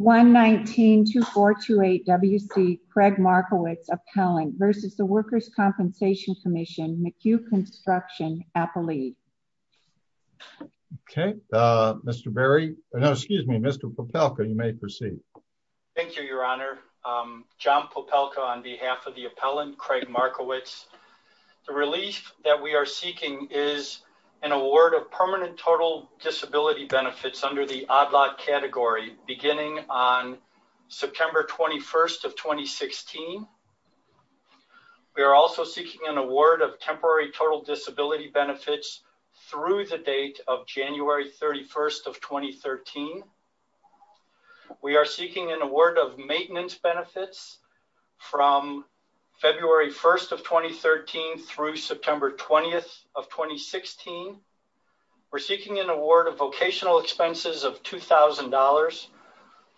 119-2428 WC Craig Markiewicz Appellant versus the Workers' Compensation Commission McHugh Construction Appellee. Okay uh Mr. Berry no excuse me Mr. Popelka you may proceed. Thank you your honor um John Popelka on behalf of the appellant Craig Markiewicz. The relief that we are seeking is an award of permanent total disability benefits under the on September 21st of 2016. We are also seeking an award of temporary total disability benefits through the date of January 31st of 2013. We are seeking an award of maintenance benefits from February 1st of 2013 through September 20th of 2016. We're seeking an award of vocational expenses of two thousand dollars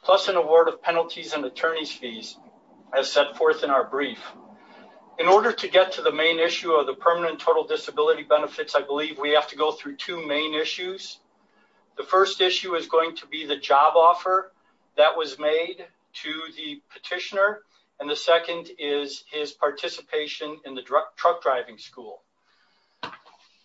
plus an award of penalties and attorney's fees as set forth in our brief. In order to get to the main issue of the permanent total disability benefits I believe we have to go through two main issues. The first issue is going to be the job offer that was made to the petitioner and the second is his participation in the truck driving school.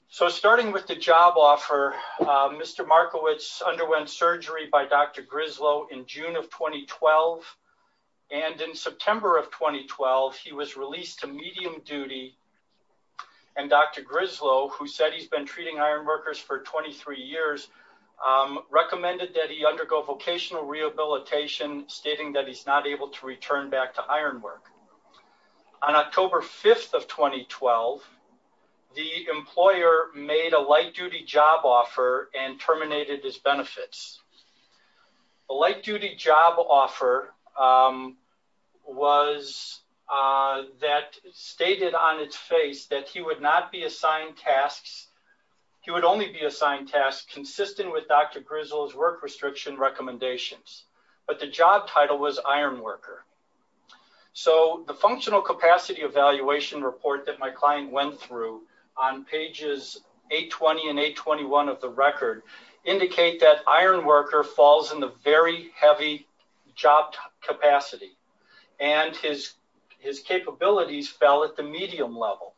So starting with the job offer Mr. Markiewicz underwent surgery by Dr. Grislow in June of 2012 and in September of 2012 he was released to medium duty and Dr. Grislow who said he's been treating iron workers for 23 years recommended that he undergo vocational rehabilitation stating that he's not able to return back to iron work. On October 5th of 2012 the employer made a light duty job offer and terminated his benefits. The light duty job offer was that stated on its face that he would not be assigned tasks he would only be assigned tasks consistent with Dr. Grislow's work restriction recommendations but the job title was iron worker. So the functional capacity evaluation report that my client went through on pages 820 and 821 of the record indicate that iron worker falls in the very heavy job capacity and his his capabilities fell at the medium level.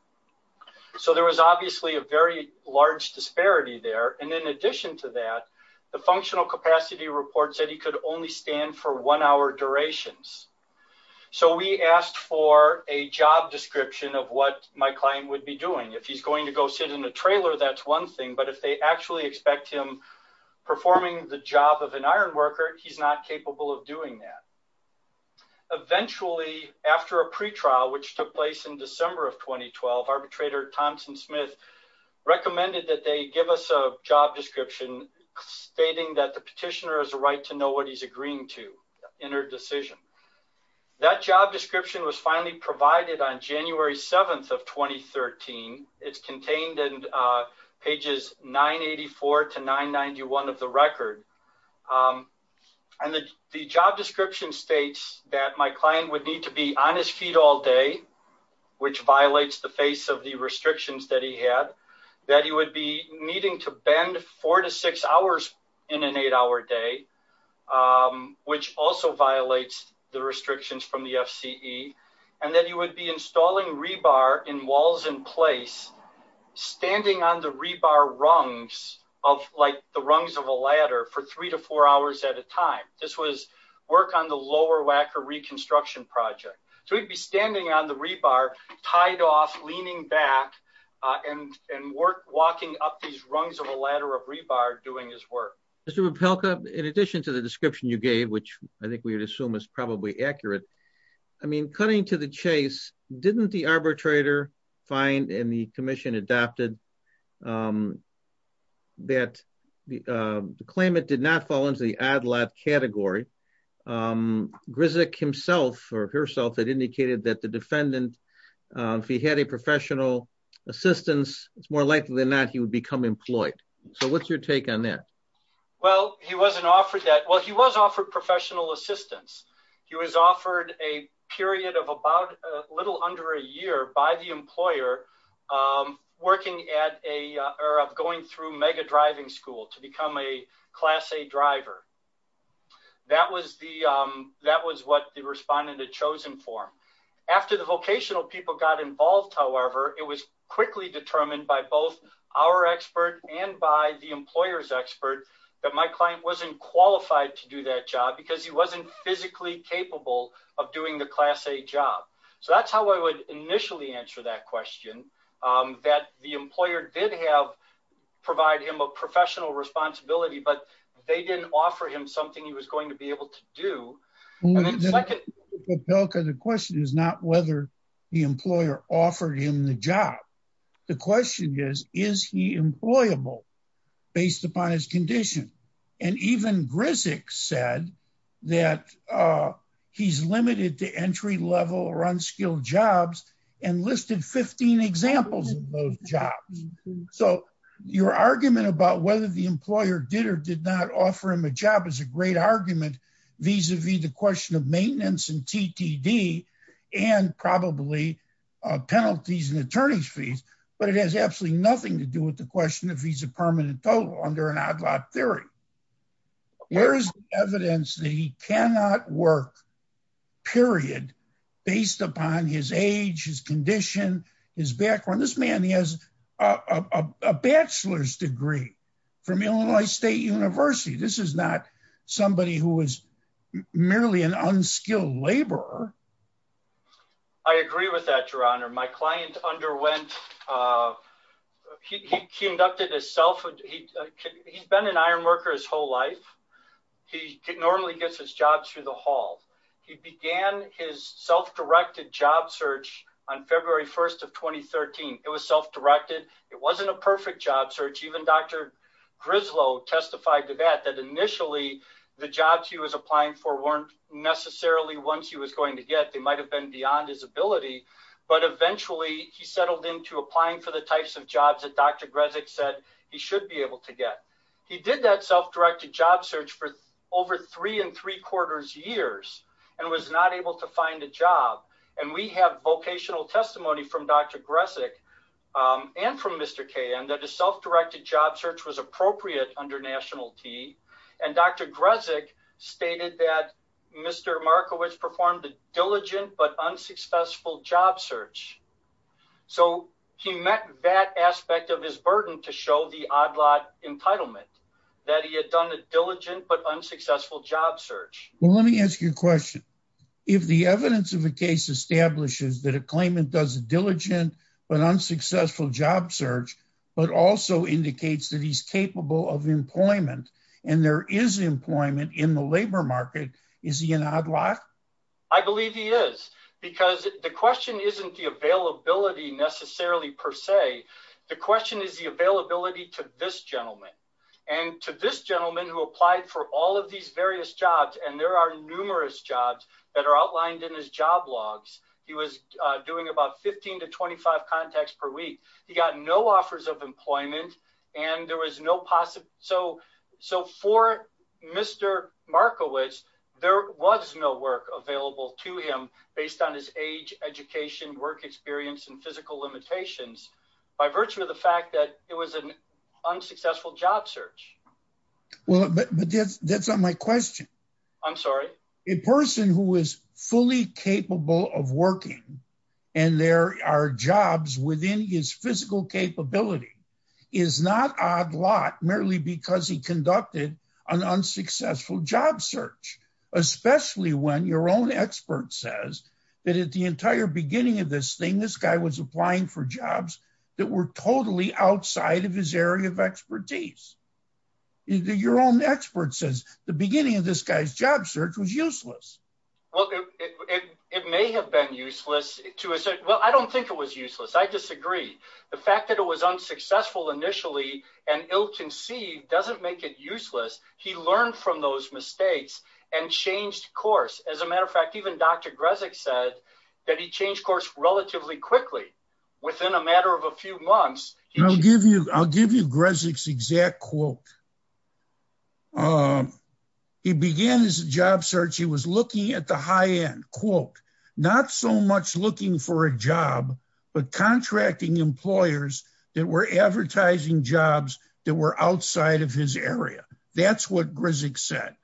So there was obviously a very large disparity there and in addition to that the functional capacity report said he could only stand for one hour durations. So we asked for a job description of what my client would be doing if he's going to go sit in a trailer that's one thing but if they actually expect him performing the job of an iron worker he's not capable of doing that. Eventually after a pre-trial which took place in December of 2012 arbitrator Thompson Smith recommended that they give us a job description stating that the petitioner has a right to know what he's agreeing to in her decision. That job description was finally provided on January 7th of 2013. It's contained in pages 984 to 991 of the record and the the job description states that my client would need to be on his feet all day which violates the face of the restrictions that he had. That he would be needing to bend four to six hours in an eight-hour day which also violates the restrictions from the FCE and that he would be installing rebar in walls in place standing on the rebar rungs of like the rungs of a ladder for three to four hours at a time. This was work on the Lower Wacker Reconstruction Project. So he'd be standing on the rebar tied off leaning back and and work walking up these rungs of a ladder of rebar doing his work. Mr. Rapelka in addition to the description you gave which I think we would assume is probably accurate I mean cutting to the chase didn't the arbitrator find and the commission adopted that the claimant did not fall into the ad-lib category. Grzyk himself or herself indicated that the defendant if he had a professional assistance it's more likely than not he would become employed. So what's your take on that? Well he wasn't offered that well he was offered professional assistance. He was offered a period of about a little under a year by the employer working at a or of going through mega driving school to become a class a driver. That was the that was what the respondent had chosen for him. After the vocational people got involved however it was quickly determined by both our expert and by the employer's expert that my client wasn't qualified to do that job because he wasn't physically capable of doing the class a job. So that's how I would initially answer that question that the employer did have provide him a professional responsibility but they didn't offer him something he was going to be able to do. The question is not whether the employer offered him the job. The question is is he employable based upon his condition and even Grzyk said that he's limited to entry level or unskilled jobs and listed 15 examples of those jobs. So your argument about whether the employer did or did not offer him a job is a great argument vis-a-vis the question of maintenance and TTD and probably penalties and attorney's fees but it has absolutely nothing to do with the question of visa permanent total under an odd lot theory. Where is evidence that he cannot work period based upon his age, his condition, his background. This man he has a bachelor's degree from Illinois State University. This is not somebody who is merely an unskilled laborer. I agree with that your honor. My client underwent uh he conducted his self he he's been an iron his whole life. He normally gets his jobs through the hall. He began his self-directed job search on February 1st of 2013. It was self-directed. It wasn't a perfect job search. Even Dr. Grislow testified to that that initially the jobs he was applying for weren't necessarily ones he was going to get. They might have been beyond his ability but eventually he settled into applying for the types of jobs that Dr. Grezik said he should be able to get. He did that self-directed job search for over three and three quarters years and was not able to find a job and we have vocational testimony from Dr. Grezik um and from Mr. Kayan that a self-directed job search was appropriate under national T and Dr. Grezik stated that Mr. Markowitz performed a diligent but unsuccessful job search. So he met that aspect of his burden to show the odd lot entitlement that he had done a diligent but unsuccessful job search. Well let me ask you a question. If the evidence of the case establishes that a claimant does a diligent but unsuccessful job search but also indicates that he's capable of employment and there is employment in the labor market, is he an odd lot? I believe he is because the question isn't the availability necessarily per se. The question is the availability to this gentleman and to this gentleman who applied for all of these various jobs and there are numerous jobs that are outlined in his job logs. He was doing about 15 to 25 contacts per week. He got no offers of employment and there was no possible so for Mr. Markowitz there was no work available to him based on his age, education, work experience, and physical limitations by virtue of the fact that it was an unsuccessful job search. Well but that's not my question. I'm sorry. A person who is fully capable of working and there are jobs within his physical capability is not odd lot merely because he conducted an unsuccessful job search. Especially when your own expert says that at the entire beginning of this thing this guy was applying for jobs that were totally outside of his area of expertise. Your own expert says the beginning of this guy's job search was useless. Well it may have been useless. Well I don't think it was useless. I disagree. The fact that it was unsuccessful initially and ill-conceived doesn't make it useless. He learned from those mistakes and changed course. As a matter of fact, even Dr. Grezik said that he changed course relatively quickly within a matter of a few months. I'll give you Grezik's exact quote. He began his job search. He was looking at the high end quote. Not so much looking for a job but contracting employers that were advertising jobs that were outside of his area. That's what Grezik said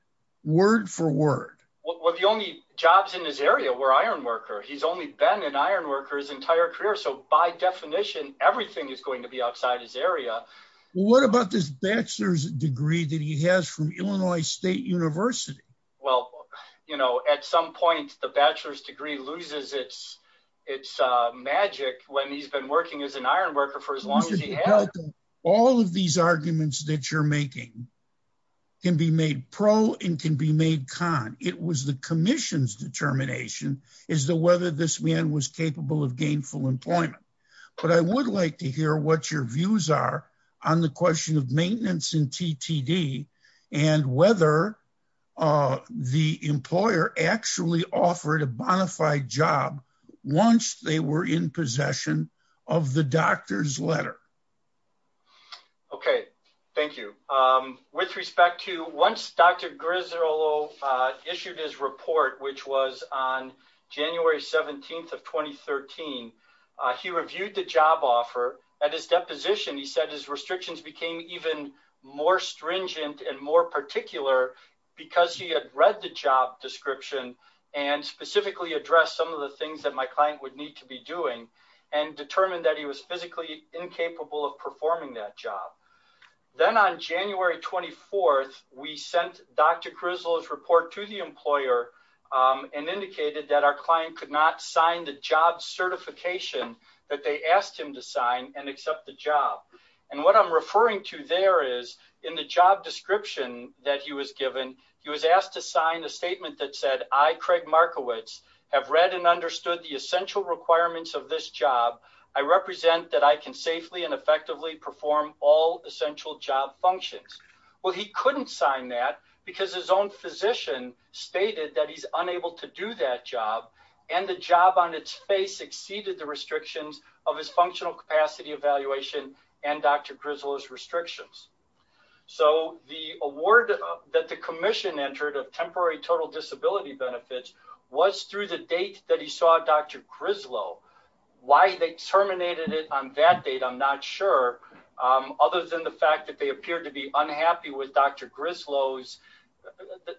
word for word. Well the only jobs in his area were iron worker. He's only been an iron worker his entire career. So by definition everything is going to be outside his area. What about this bachelor's degree that he has from Illinois State University? Well you know at some point the bachelor's degree loses its magic when he's been working as an iron worker for as long as he has. All of these arguments that you're making can be made pro and can be made con. It was the commission's determination as to whether this man was on the question of maintenance in TTD and whether the employer actually offered a bona fide job once they were in possession of the doctor's letter. Okay thank you. With respect to once Dr. Grizzolo issued his report which was on January 17th of 2013. He reviewed the job offer at his position. He said his restrictions became even more stringent and more particular because he had read the job description and specifically addressed some of the things that my client would need to be doing and determined that he was physically incapable of performing that job. Then on January 24th we sent Dr. Grizzolo's report to the employer and indicated that our client could not sign the job certification that they asked him to sign and accept the job. And what I'm referring to there is in the job description that he was given he was asked to sign a statement that said I Craig Markowitz have read and understood the essential requirements of this job. I represent that I can safely and effectively perform all essential job functions. Well he couldn't sign that because his own physician stated that he's unable to do that job and the job on its face exceeded the restrictions of his functional capacity evaluation and Dr. Grizzolo's restrictions. So the award that the commission entered of temporary total disability benefits was through the date that he saw Dr. Grizzolo. Why they terminated it on that date I'm not sure. Other than the fact that they appeared to be unhappy with Dr. Grizzolo's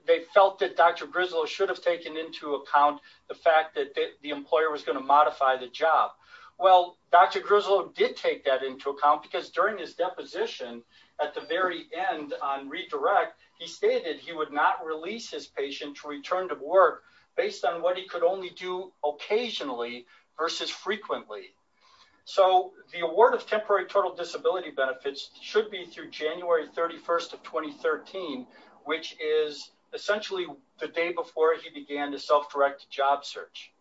they felt that Dr. Grizzolo should have taken into account the fact that the employer was going to modify the job. Well Dr. Grizzolo did take that into account because during his deposition at the very end on redirect he stated he would not release his patient to return to work based on what he could only do occasionally versus frequently. So the award of temporary total disability benefits should be through January 31st of 2013 which is essentially the day before he began the self-directed job search.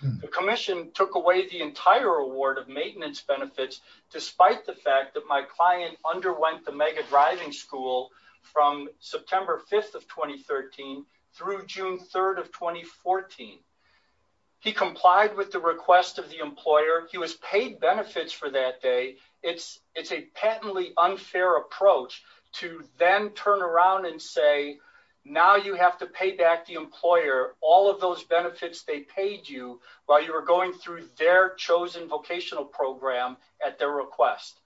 The commission took away the entire award of maintenance benefits despite the fact that my client underwent the mega driving school from September 5th of 2013 through June 3rd of 2014. He complied with the request of the employer. He was paid benefits for that day. It's it's a patently unfair approach to then turn around and say now you have to pay back the employer all of those benefits they paid you while you were going through their chosen vocational program at their request.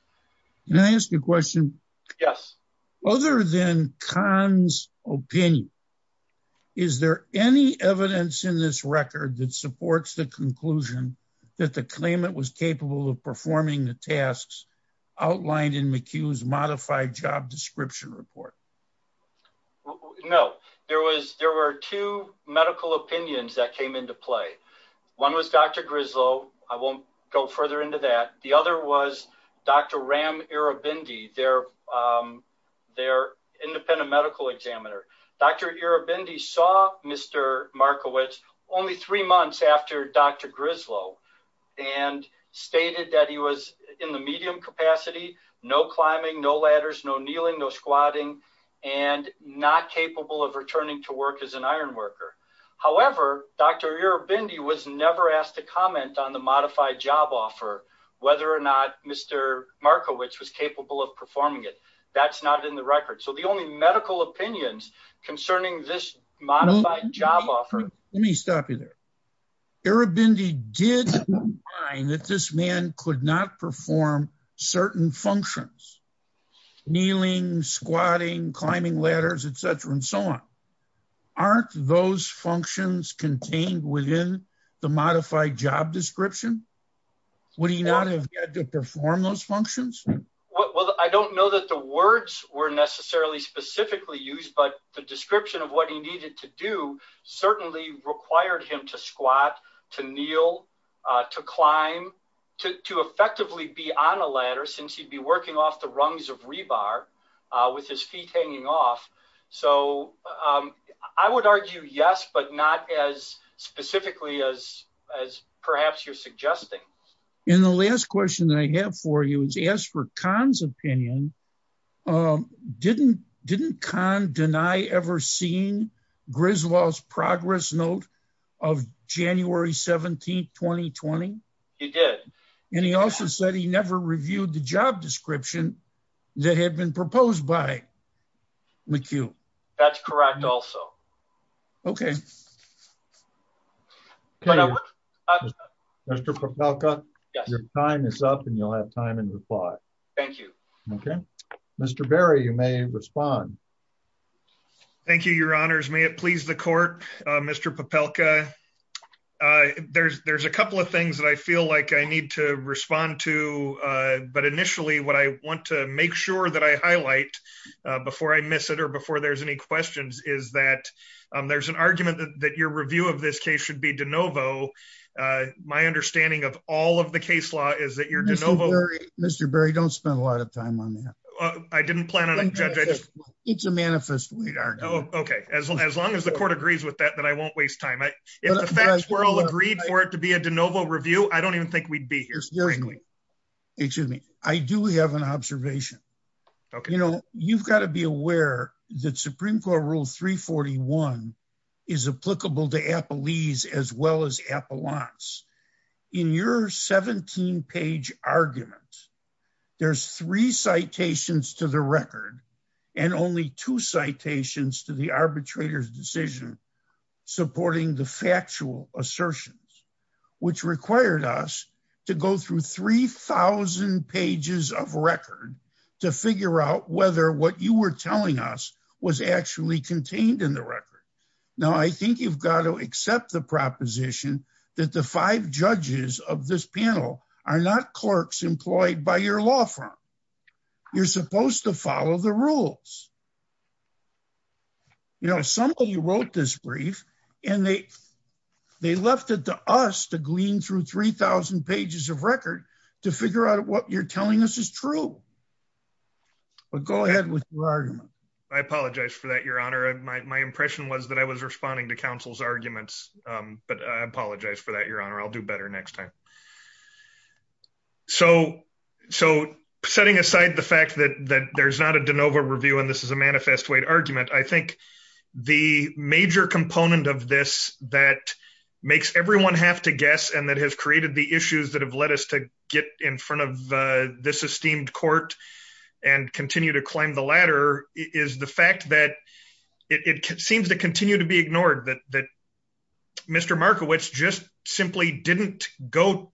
Can I ask you a question? Yes. Other than Khan's opinion is there any evidence in this record that supports the conclusion that the claimant was capable of performing the tasks outlined in McHugh's modified job description report? No. There was there were two medical opinions that came into play. One was Dr. Grizzolo. I won't go further into that. The other was Dr. Ram Irabindi their independent medical examiner. Dr. Irabindi saw Mr. Markowitz only three months after Dr. Grizzolo and stated that he was in the medium capacity, no climbing, no ladders, no kneeling, no squatting and not capable of returning to work as an iron worker. However, Dr. Irabindi was never asked to comment on the modified job offer whether or not Mr. Markowitz was capable of performing it. That's not in the record. So the only medical opinions concerning this modified job offer. Let me stop you there. Irabindi did find that this man could not perform certain functions, kneeling, squatting, climbing ladders, etc. and so on. Aren't those functions contained within the modified job description? Would he not have to perform those functions? Well, I don't know that the words were necessarily specifically used, but the description of what he needed to do certainly required him to squat, to kneel, to climb, to effectively be on a ladder since he'd be working off the rungs of rebar with his feet hanging off. So I would argue yes, but not as specifically as perhaps you're saying. I have a question that I have for you is ask for Khan's opinion. Didn't Khan deny ever seen Griswold's progress note of January 17, 2020? He did. And he also said he never reviewed the job and you'll have time and reply. Thank you. Okay. Mr. Berry, you may respond. Thank you, your honors. May it please the court, Mr. Popelka. There's a couple of things that I feel like I need to respond to. But initially, what I want to make sure that I highlight before I miss it or before there's any questions is that there's an argument that your review of this case should be de novo. My understanding of all of the case law is that you're de novo. Mr. Berry, don't spend a lot of time on that. I didn't plan on it. It's a manifest. Okay. As long as the court agrees with that, that I won't waste time. If the facts were all agreed for it to be a de novo review, I don't even think we'd be here. Excuse me. I do have an observation. Okay. You know, you've got to be aware that Supreme Court rule 341 is applicable to Appellees as well as Appellants. In your 17-page argument, there's three citations to the record and only two citations to the arbitrator's decision supporting the factual assertions, which required us to go through 3,000 pages of record to figure out whether what you were telling us was actually contained in the record. Now, I think you've got to accept the proposition that the five judges of this panel are not clerks employed by your law firm. You're supposed to follow the rules. You know, somebody wrote this brief and they left it to us to glean through 3,000 pages of record to figure out what you're telling us is true. Well, go ahead with your argument. I apologize for that, Your Honor. My impression was that I was responding to counsel's arguments, but I apologize for that, Your Honor. I'll do better next time. So, setting aside the fact that there's not a de novo review and this is a manifest weight argument, I think the major component of this that makes everyone have to guess and that has get in front of this esteemed court and continue to climb the ladder is the fact that it seems to continue to be ignored that Mr. Markowitz just simply didn't go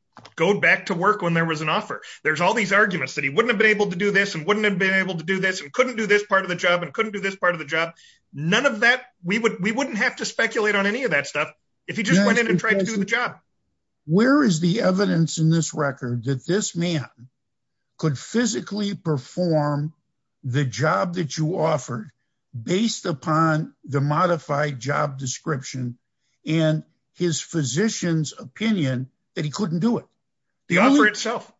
back to work when there was an offer. There's all these arguments that he wouldn't have been able to do this and wouldn't have been able to do this and couldn't do this part of the job and couldn't do this part of the job. None of that, we wouldn't have to speculate on any of that stuff if he just went in and tried to do the job. Where is the evidence in this record that this man could physically perform the job that you offered based upon the modified job description and his physician's opinion that he couldn't do it? The offer itself.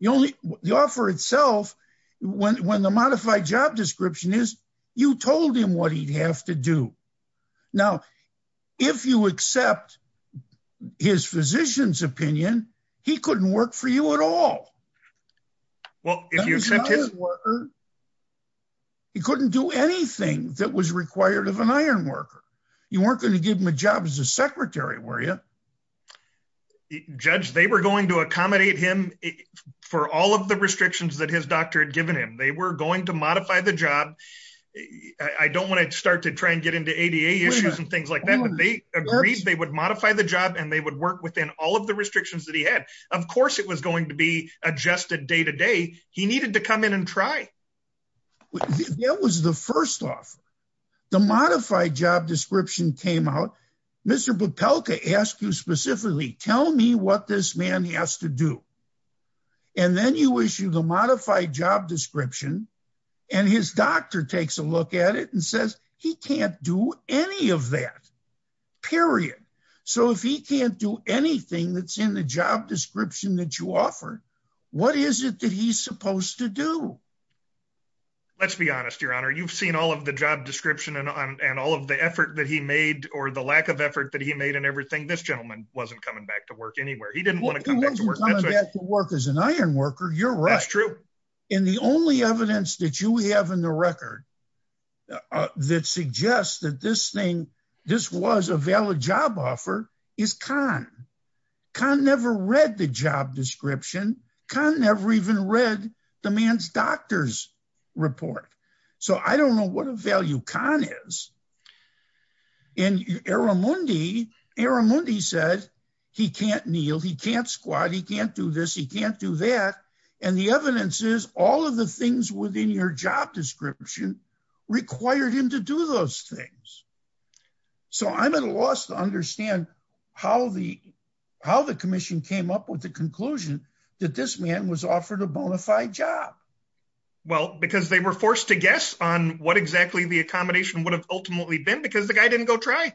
The offer itself, when the modified job description is, you told him what he'd have to do. Now, if you accept his physician's opinion, he couldn't work for you at all. He couldn't do anything that was required of an iron worker. You weren't going to give him a job as a secretary, were you? Judge, they were going to accommodate him for all of the restrictions that his doctor had given him. They were going to modify the job. I don't want to start to try and get into ADA issues and things like that, but they agreed they would modify the job and they would work within all of the restrictions that he had. Of course, it was going to be adjusted day to day. He needed to come in and try. That was the first offer. The modified job description came out. Mr. Popelka asked you and his doctor takes a look at it and says he can't do any of that, period. If he can't do anything that's in the job description that you offered, what is it that he's supposed to do? Let's be honest, Your Honor. You've seen all of the job description and all of the effort that he made or the lack of effort that he made and everything. This gentleman wasn't coming back to work anywhere. He didn't want to come back to work. He wasn't coming back to work as an iron worker. You're right. The only evidence that you have in the record that suggests that this was a valid job offer is Kahn. Kahn never read the job description. Kahn never even read the man's doctor's report. I don't know what a value Kahn is. Eramundi said he can't kneel. He can't squat. He can't do this. He can't do that. The evidence is all of the things within your job description required him to do those things. I'm at a loss to understand how the commission came up with the conclusion that this man was offered a bona fide job. Well, because they were forced to guess on what exactly the accommodation would have ultimately been because the guy didn't go try.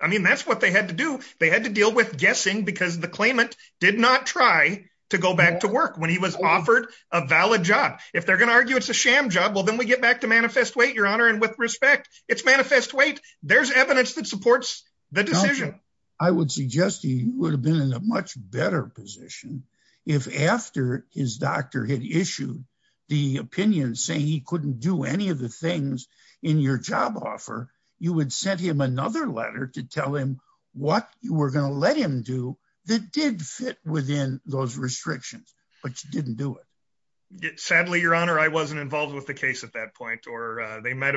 That's what they had to do. They had to deal with guessing because the claimant did not try to go back to work when he was offered a valid job. If they're going to argue it's a sham job, well, then we get back to manifest weight, your honor, and with respect, it's manifest weight. There's evidence that supports the decision. I would suggest he would have been in a much better position if after his doctor had issued the opinion saying he couldn't do any of the things in your job offer, you would send him another letter to tell him what you were going to let him do that did fit within those restrictions, but you didn't do it. Sadly, your honor, I wasn't involved with the case at that point or they might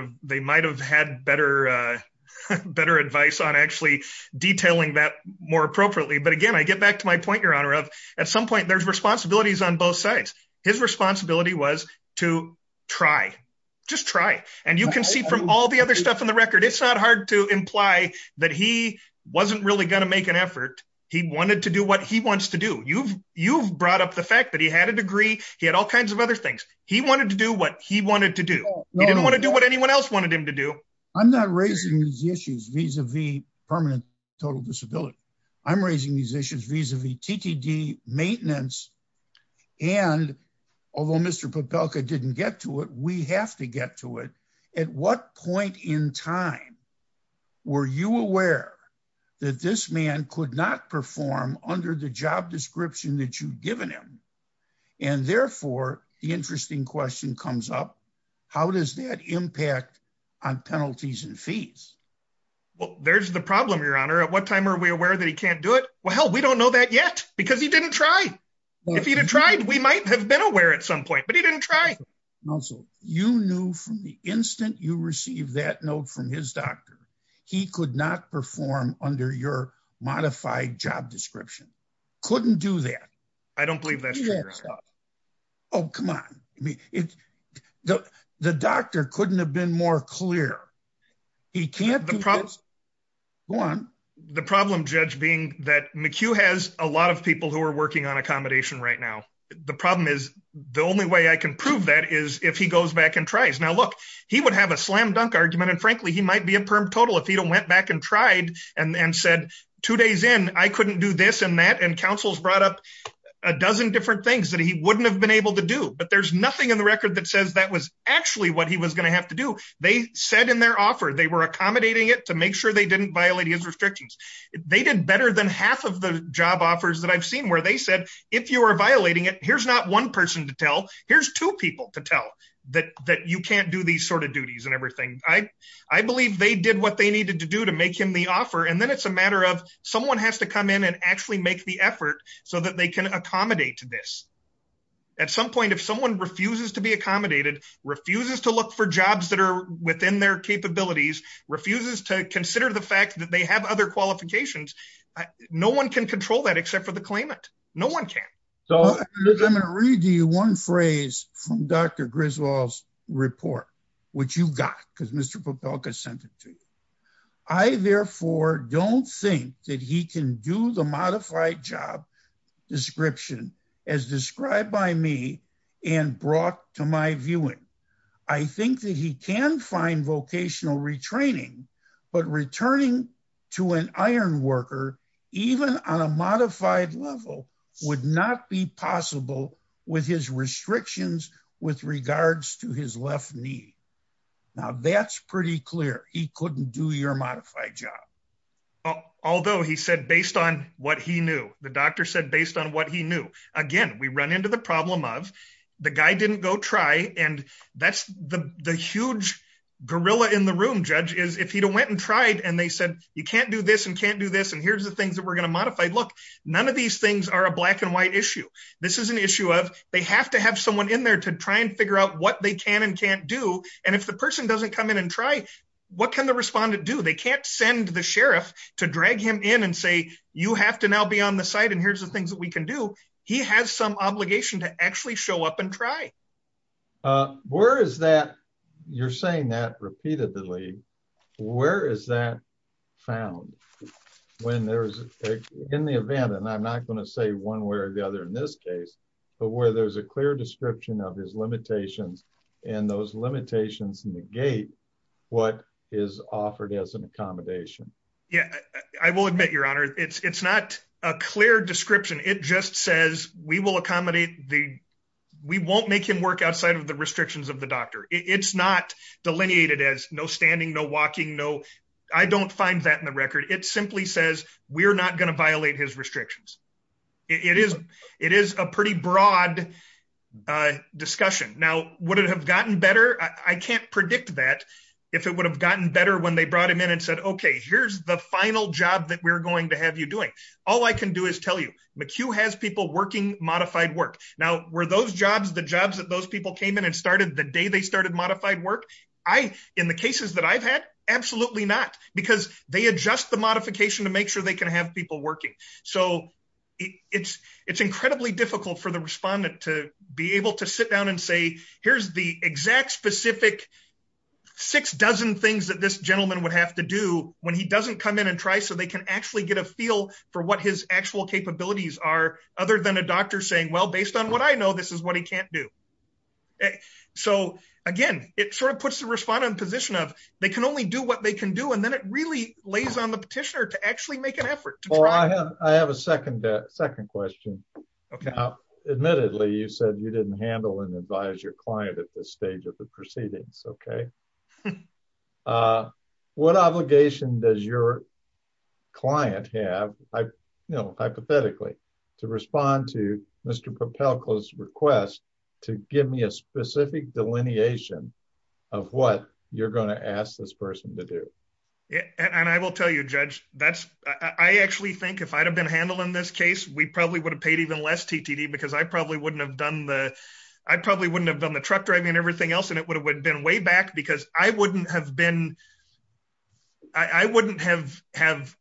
have had better advice on actually detailing that more appropriately. But again, I get back to my point, your honor, of at some point there's responsibilities on both sides. His responsibility was to try, just try. And you can see from all the other stuff in the record, it's not hard to imply that he wasn't really going to make an effort. He wanted to do what he wants to do. You've brought up the fact that he had a degree. He had all kinds of other things. He wanted to do what he wanted to do. He didn't want to do what anyone else wanted him to do. I'm not raising these issues vis-a-vis permanent total disability. I'm raising these issues vis-a-vis TTD maintenance. And although Mr. Popelka didn't get to it, we have to get to it. At what point in time were you aware that this man could not perform under the job description that you'd given him? And therefore, the interesting question comes up, how does that impact on penalties and fees? Well, there's the problem, your honor. At what time are we aware that he can't do it? Well, hell, we don't know that yet because he didn't try. If he'd have tried, we might have been aware at some point, but he didn't try. Also, you knew from the instant you received that note from his doctor, he could not perform under your modified job description. Couldn't do that. I don't believe that's true, your honor. Oh, come on. The doctor couldn't have been more clear. He can't do this. Go on. The problem, Judge, being that McHugh has a lot of people who are working on accommodation right now. The problem is the only way I can prove that is if he goes back and tries. Now, look, he would have a slam dunk argument. And frankly, he might be impermeable total if he went back and tried and said two days in, I couldn't do this and that. And counsels brought up a dozen different things that he wouldn't have been able to do. But there's nothing in the record that says that was actually what he was going to have to do. They said in their offer, they were accommodating it to make sure they didn't violate his restrictions. They did better than half of the job offers that I've seen where they said, if you are violating it, here's not one person to tell. Here's two to tell that you can't do these sort of duties and everything. I believe they did what they needed to do to make him the offer. And then it's a matter of someone has to come in and actually make the effort so that they can accommodate to this. At some point, if someone refuses to be accommodated, refuses to look for jobs that are within their capabilities, refuses to consider the fact that they have other qualifications, no one can control that except for the claimant. No one can. I'm going to read you one phrase from Dr. Griswold's report, which you've got because Mr. Popelka sent it to you. I therefore don't think that he can do the modified job description as described by me and brought to my viewing. I think that he can find vocational retraining, but returning to an iron worker, even on a modified level, would not be possible with his restrictions with regards to his left knee. Now that's pretty clear. He couldn't do your modified job. Although he said based on what he knew, the doctor said based on what he knew. Again, we run into the problem of the guy didn't go try. And that's the huge gorilla in the room, Judge, is if he went and tried and they said, you can't do this and can't do this. And here's the things that we're going to modify. Look, none of these things are a black and white issue. This is an issue of they have to have someone in there to try and figure out what they can and can't do. And if the person doesn't come in and try, what can the respondent do? They can't send the sheriff to drag him in and say, you have to now be on the side. And here's the things that we can do. He has some obligation to actually show up and try. Where is that? You're saying that repeatedly? Where is that found? When there's in the event, and I'm not going to say one way or the other in this case, but where there's a clear description of his limitations, and those limitations negate what is offered as an accommodation. Yeah, I will admit, Your Honor, it's not a clear description. It just says, we won't make him work outside of the restrictions of the doctor. It's not delineated as no standing, no walking. I don't find that in the record. It simply says, we're not going to violate his restrictions. It is a pretty broad discussion. Now, would it have gotten better? I can't predict that. If it would have gotten better when they brought him in and said, okay, here's the final job that we're going to have you doing. All I can do is tell you, McHugh has people working modified work. Now, were those jobs, the jobs that those people came in and started the day they started modified work? I, in the cases that I've had, absolutely not, because they adjust the modification to make sure they can have people working. So it's, it's incredibly difficult for the respondent to be able to sit down and say, here's the exact specific six dozen things that this gentleman would have to do when he doesn't come in and try so they can actually get a feel for what his actual capabilities are, other than a doctor saying, well, based on what I know, this is what he can't do. So again, it sort of puts the respondent in a position of, they can only do what they can do. And then it really lays on the petitioner to actually make an effort. I have a second, second question. Admittedly, you said you didn't handle and advise your client at this stage of the proceedings. Okay. What obligation does your client have? I know, hypothetically, to respond to Mr. Propelco's request to give me a specific delineation of what you're going to ask this person to do. And I will tell you, Judge, that's, I actually think if I'd have been handled in this case, we probably would have paid even less TTD, because I probably wouldn't have done the, I probably wouldn't have done the truck driving and everything else. And it would have been way back because I wouldn't have been, I wouldn't have have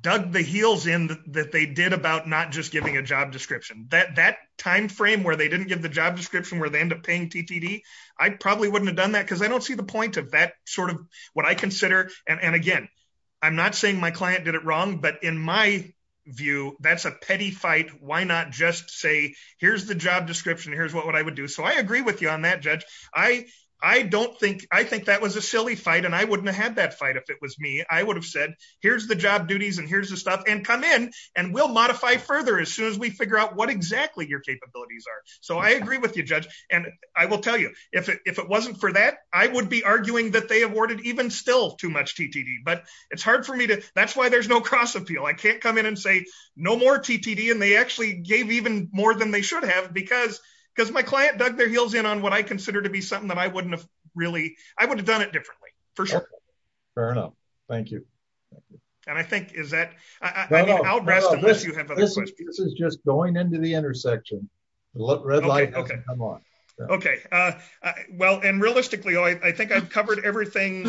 dug the heels in that they did about not just giving a job description, that that timeframe where they didn't give the job description where they end up paying TTD, I probably wouldn't have done that, because I don't see the point of what I consider. And again, I'm not saying my client did it wrong, but in my view, that's a petty fight. Why not just say, here's the job description, here's what I would do. So I agree with you on that, Judge. I don't think, I think that was a silly fight and I wouldn't have had that fight if it was me. I would have said, here's the job duties and here's the stuff and come in and we'll modify further as soon as we figure out what exactly your capabilities are. So I agree with you, Judge. And I will tell you, if it wasn't for that, I would be arguing that they awarded even still too much TTD, but it's hard for me to, that's why there's no cross appeal. I can't come in and say no more TTD. And they actually gave even more than they should have because, because my client dug their heels in on what I consider to be something that I wouldn't have really, I would have done it differently for sure. Fair enough. Thank you. And I think is that this is just going into the intersection. Okay. Okay. Well, and realistically, I think I've covered everything.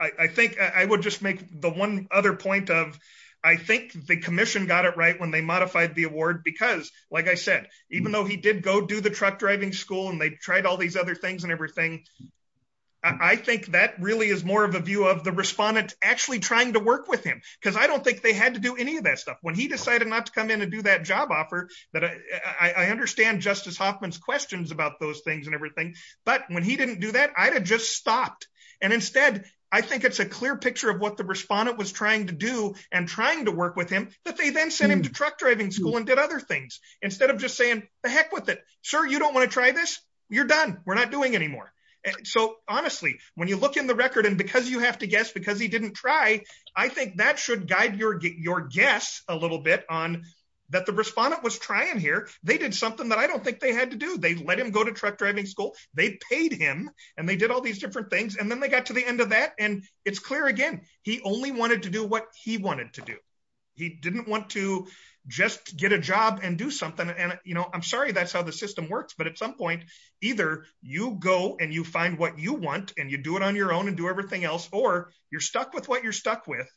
I think I would just make the one other point of, I think the commission got it right when they modified the award, because like I said, even though he did go do the truck driving school and they tried all these other things and everything, I think that really is more of a view of the respondent actually trying to work with him. Cause I don't think they had to do any of that stuff when he decided not to come in and do that job offer that I understand Justice Hoffman's questions about those things and everything. But when he didn't do that, I had just stopped. And instead, I think it's a clear picture of what the respondent was trying to do and trying to work with him, but they then sent him to truck driving school and did other things instead of just saying the heck with it, sir, you don't want to try this. You're done. We're not going to let you do this. You have to guess because he didn't try. I think that should guide your, your guess a little bit on that. The respondent was trying here. They did something that I don't think they had to do. They let him go to truck driving school. They paid him and they did all these different things. And then they got to the end of that. And it's clear again, he only wanted to do what he wanted to do. He didn't want to just get a job and do something. And, you know, I'm sorry, that's how the system works, but at some point either you go and you find what you and you do it on your own and do everything else, or you're stuck with what you're stuck with,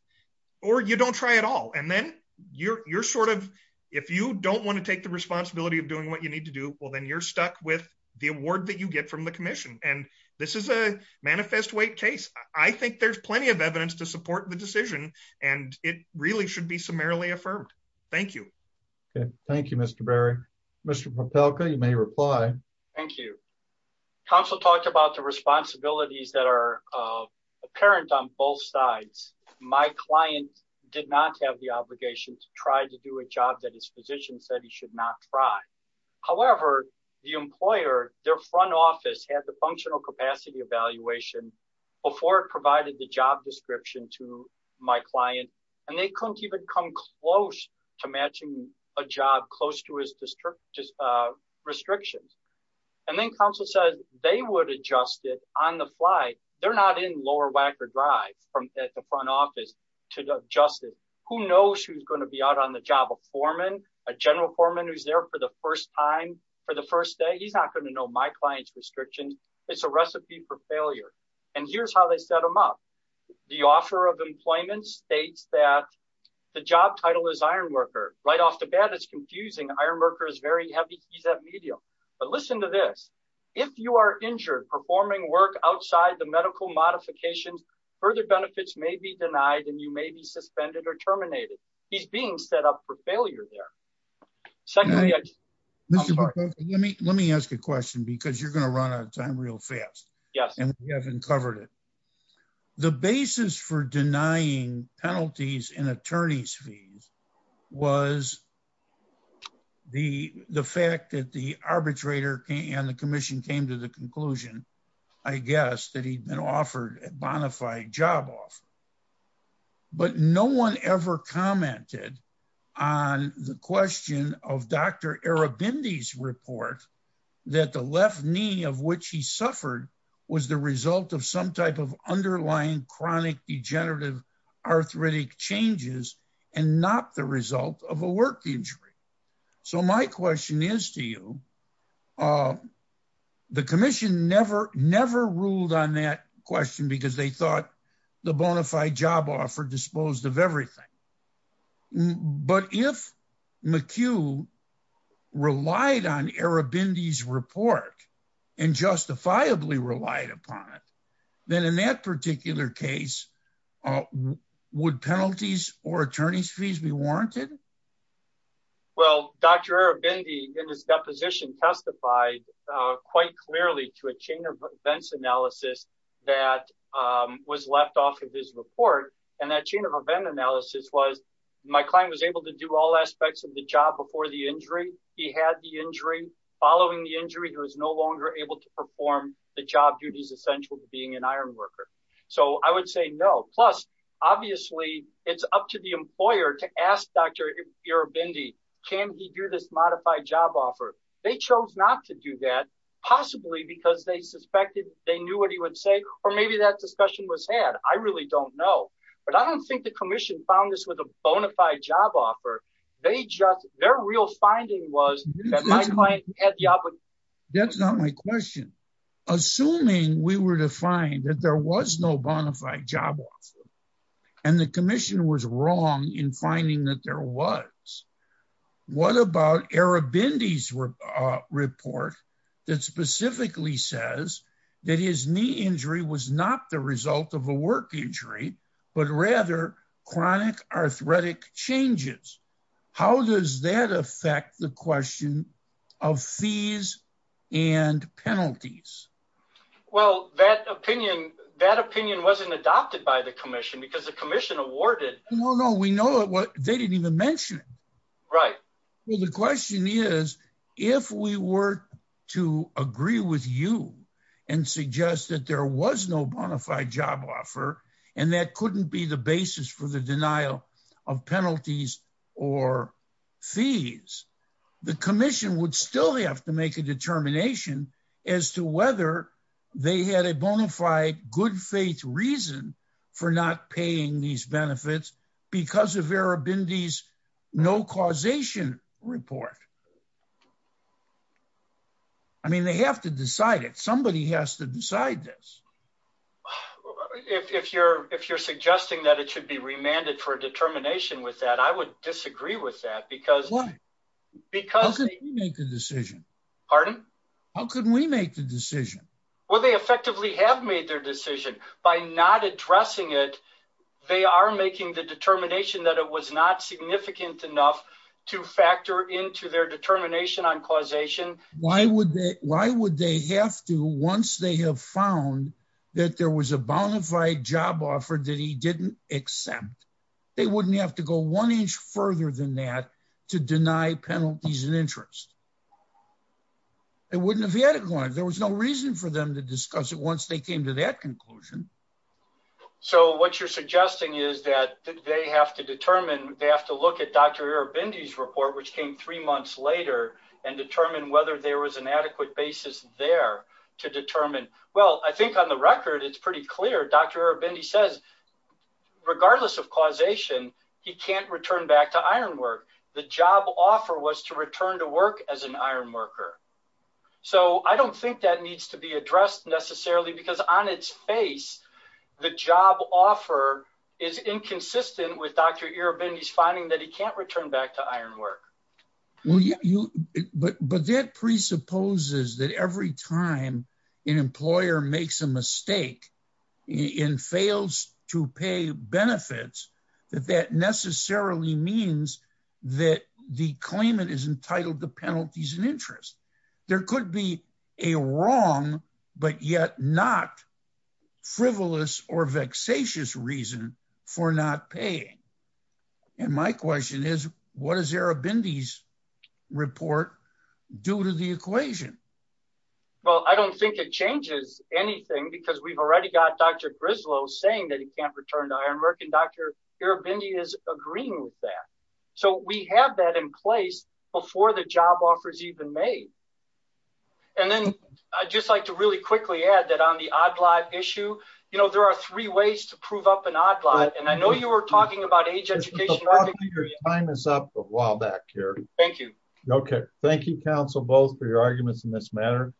or you don't try at all. And then you're, you're sort of, if you don't want to take the responsibility of doing what you need to do, well, then you're stuck with the award that you get from the commission. And this is a manifest weight case. I think there's plenty of evidence to support the decision and it really should be summarily affirmed. Thank you. Okay. Thank you, uh, apparent on both sides. My client did not have the obligation to try to do a job that his physician said he should not try. However, the employer, their front office had the functional capacity evaluation before it provided the job description to my client. And they couldn't even come close to matching a job close to his district restrictions. And then counsel says they would adjust it on the fly. They're not in lower Wacker drive from at the front office to adjust it. Who knows who's going to be out on the job of foreman, a general foreman, who's there for the first time for the first day. He's not going to know my client's restrictions. It's a recipe for failure. And here's how they set them up. The offer of employment states that the job title is ironworker right off the bat. It's confusing. Ironworker is very heavy. He's injured performing work outside the medical modifications. Further benefits may be denied and you may be suspended or terminated. He's being set up for failure there. Let me ask a question because you're going to run out of time real fast. Yes. And we haven't covered it. The basis for denying penalties in attorney's fees was the, the fact that the I guess that he'd been offered a bona fide job off, but no one ever commented on the question of Dr. Arabindi's report that the left knee of which he suffered was the result of some type of underlying chronic degenerative arthritic changes and not the result of a work injury. So my question is to you, the commission never, never ruled on that question because they thought the bona fide job offer disposed of everything. But if McHugh relied on Arabindi's report and justifiably relied upon it, then in that particular case, uh, would penalties or attorney's fees be warranted? Well, Dr. Arabindi in his deposition testified, uh, quite clearly to a chain of events analysis that, um, was left off of his report. And that chain of event analysis was my client was able to do all aspects of the job before the injury. He had the injury following the injury. There was no longer able to perform the job is essential to being an ironworker. So I would say no. Plus, obviously it's up to the employer to ask Dr. Arabindi, can he do this modified job offer? They chose not to do that possibly because they suspected they knew what he would say, or maybe that discussion was had. I really don't know, but I don't think the commission found this with a bona fide job offer. They just, their real finding was that my client had the opportunity. That's not my question. Assuming we were to find that there was no bona fide job offer and the commissioner was wrong in finding that there was, what about Arabindi's, uh, report that specifically says that his knee injury was not the result of a work injury, but rather chronic arthritic changes. How does that affect the question of fees and penalties? Well, that opinion, that opinion wasn't adopted by the commission because the commission awarded. No, no, we know what they didn't even mention. Right. Well, the question is if we were to agree with you and suggest that there was no bona fide job offer and that couldn't be the basis for the denial of penalties or fees, the commission would still have to make a determination as to whether they had a bona fide good faith reason for not paying these benefits because of Arabindi's no causation report. I mean, they have to decide it. Somebody has to decide this. If you're, if you're suggesting that it should be remanded for a determination with that, I would disagree with that because, because they make the decision. Pardon? How can we make the decision by not addressing it? They are making the determination that it was not significant enough to factor into their determination on causation. Why would they, why would they have to, once they have found that there was a bona fide job offer that he didn't accept, they wouldn't have to go one inch further than that to deny penalties and interest. It wouldn't have had a client. There was no reason for them to discuss it. Once they came to that conclusion. So what you're suggesting is that they have to determine, they have to look at Dr. Arabindi's report, which came three months later and determine whether there was an adequate basis there to determine. Well, I think on the record, it's pretty clear. Dr. Arabindi says, regardless of causation, he can't return back to ironwork. The job offer was to return to work as an ironworker. So I don't think that needs to be addressed necessarily because on its face, the job offer is inconsistent with Dr. Arabindi's finding that he can't return back to ironwork. Well, you, but, but that presupposes that every time an employer makes a mistake and fails to pay benefits, that that necessarily means that the claimant is entitled to penalties and interest. There could be a wrong, but yet not frivolous or vexatious reason for not paying. And my question is what is Arabindi's report due to the equation? Well, I don't think it changes anything because we've already got Dr. Grislow saying that he can't return to ironwork and Dr. Arabindi is agreeing with that. So we have that in place before the job offer is even made. And then I'd just like to really quickly add that on the odd lot issue, you know, there are three ways to prove up an odd lot. And I know you were talking about age education. Your time is up a while back here. Thank you. Okay. Thank you. Council both for your arguments in this matter.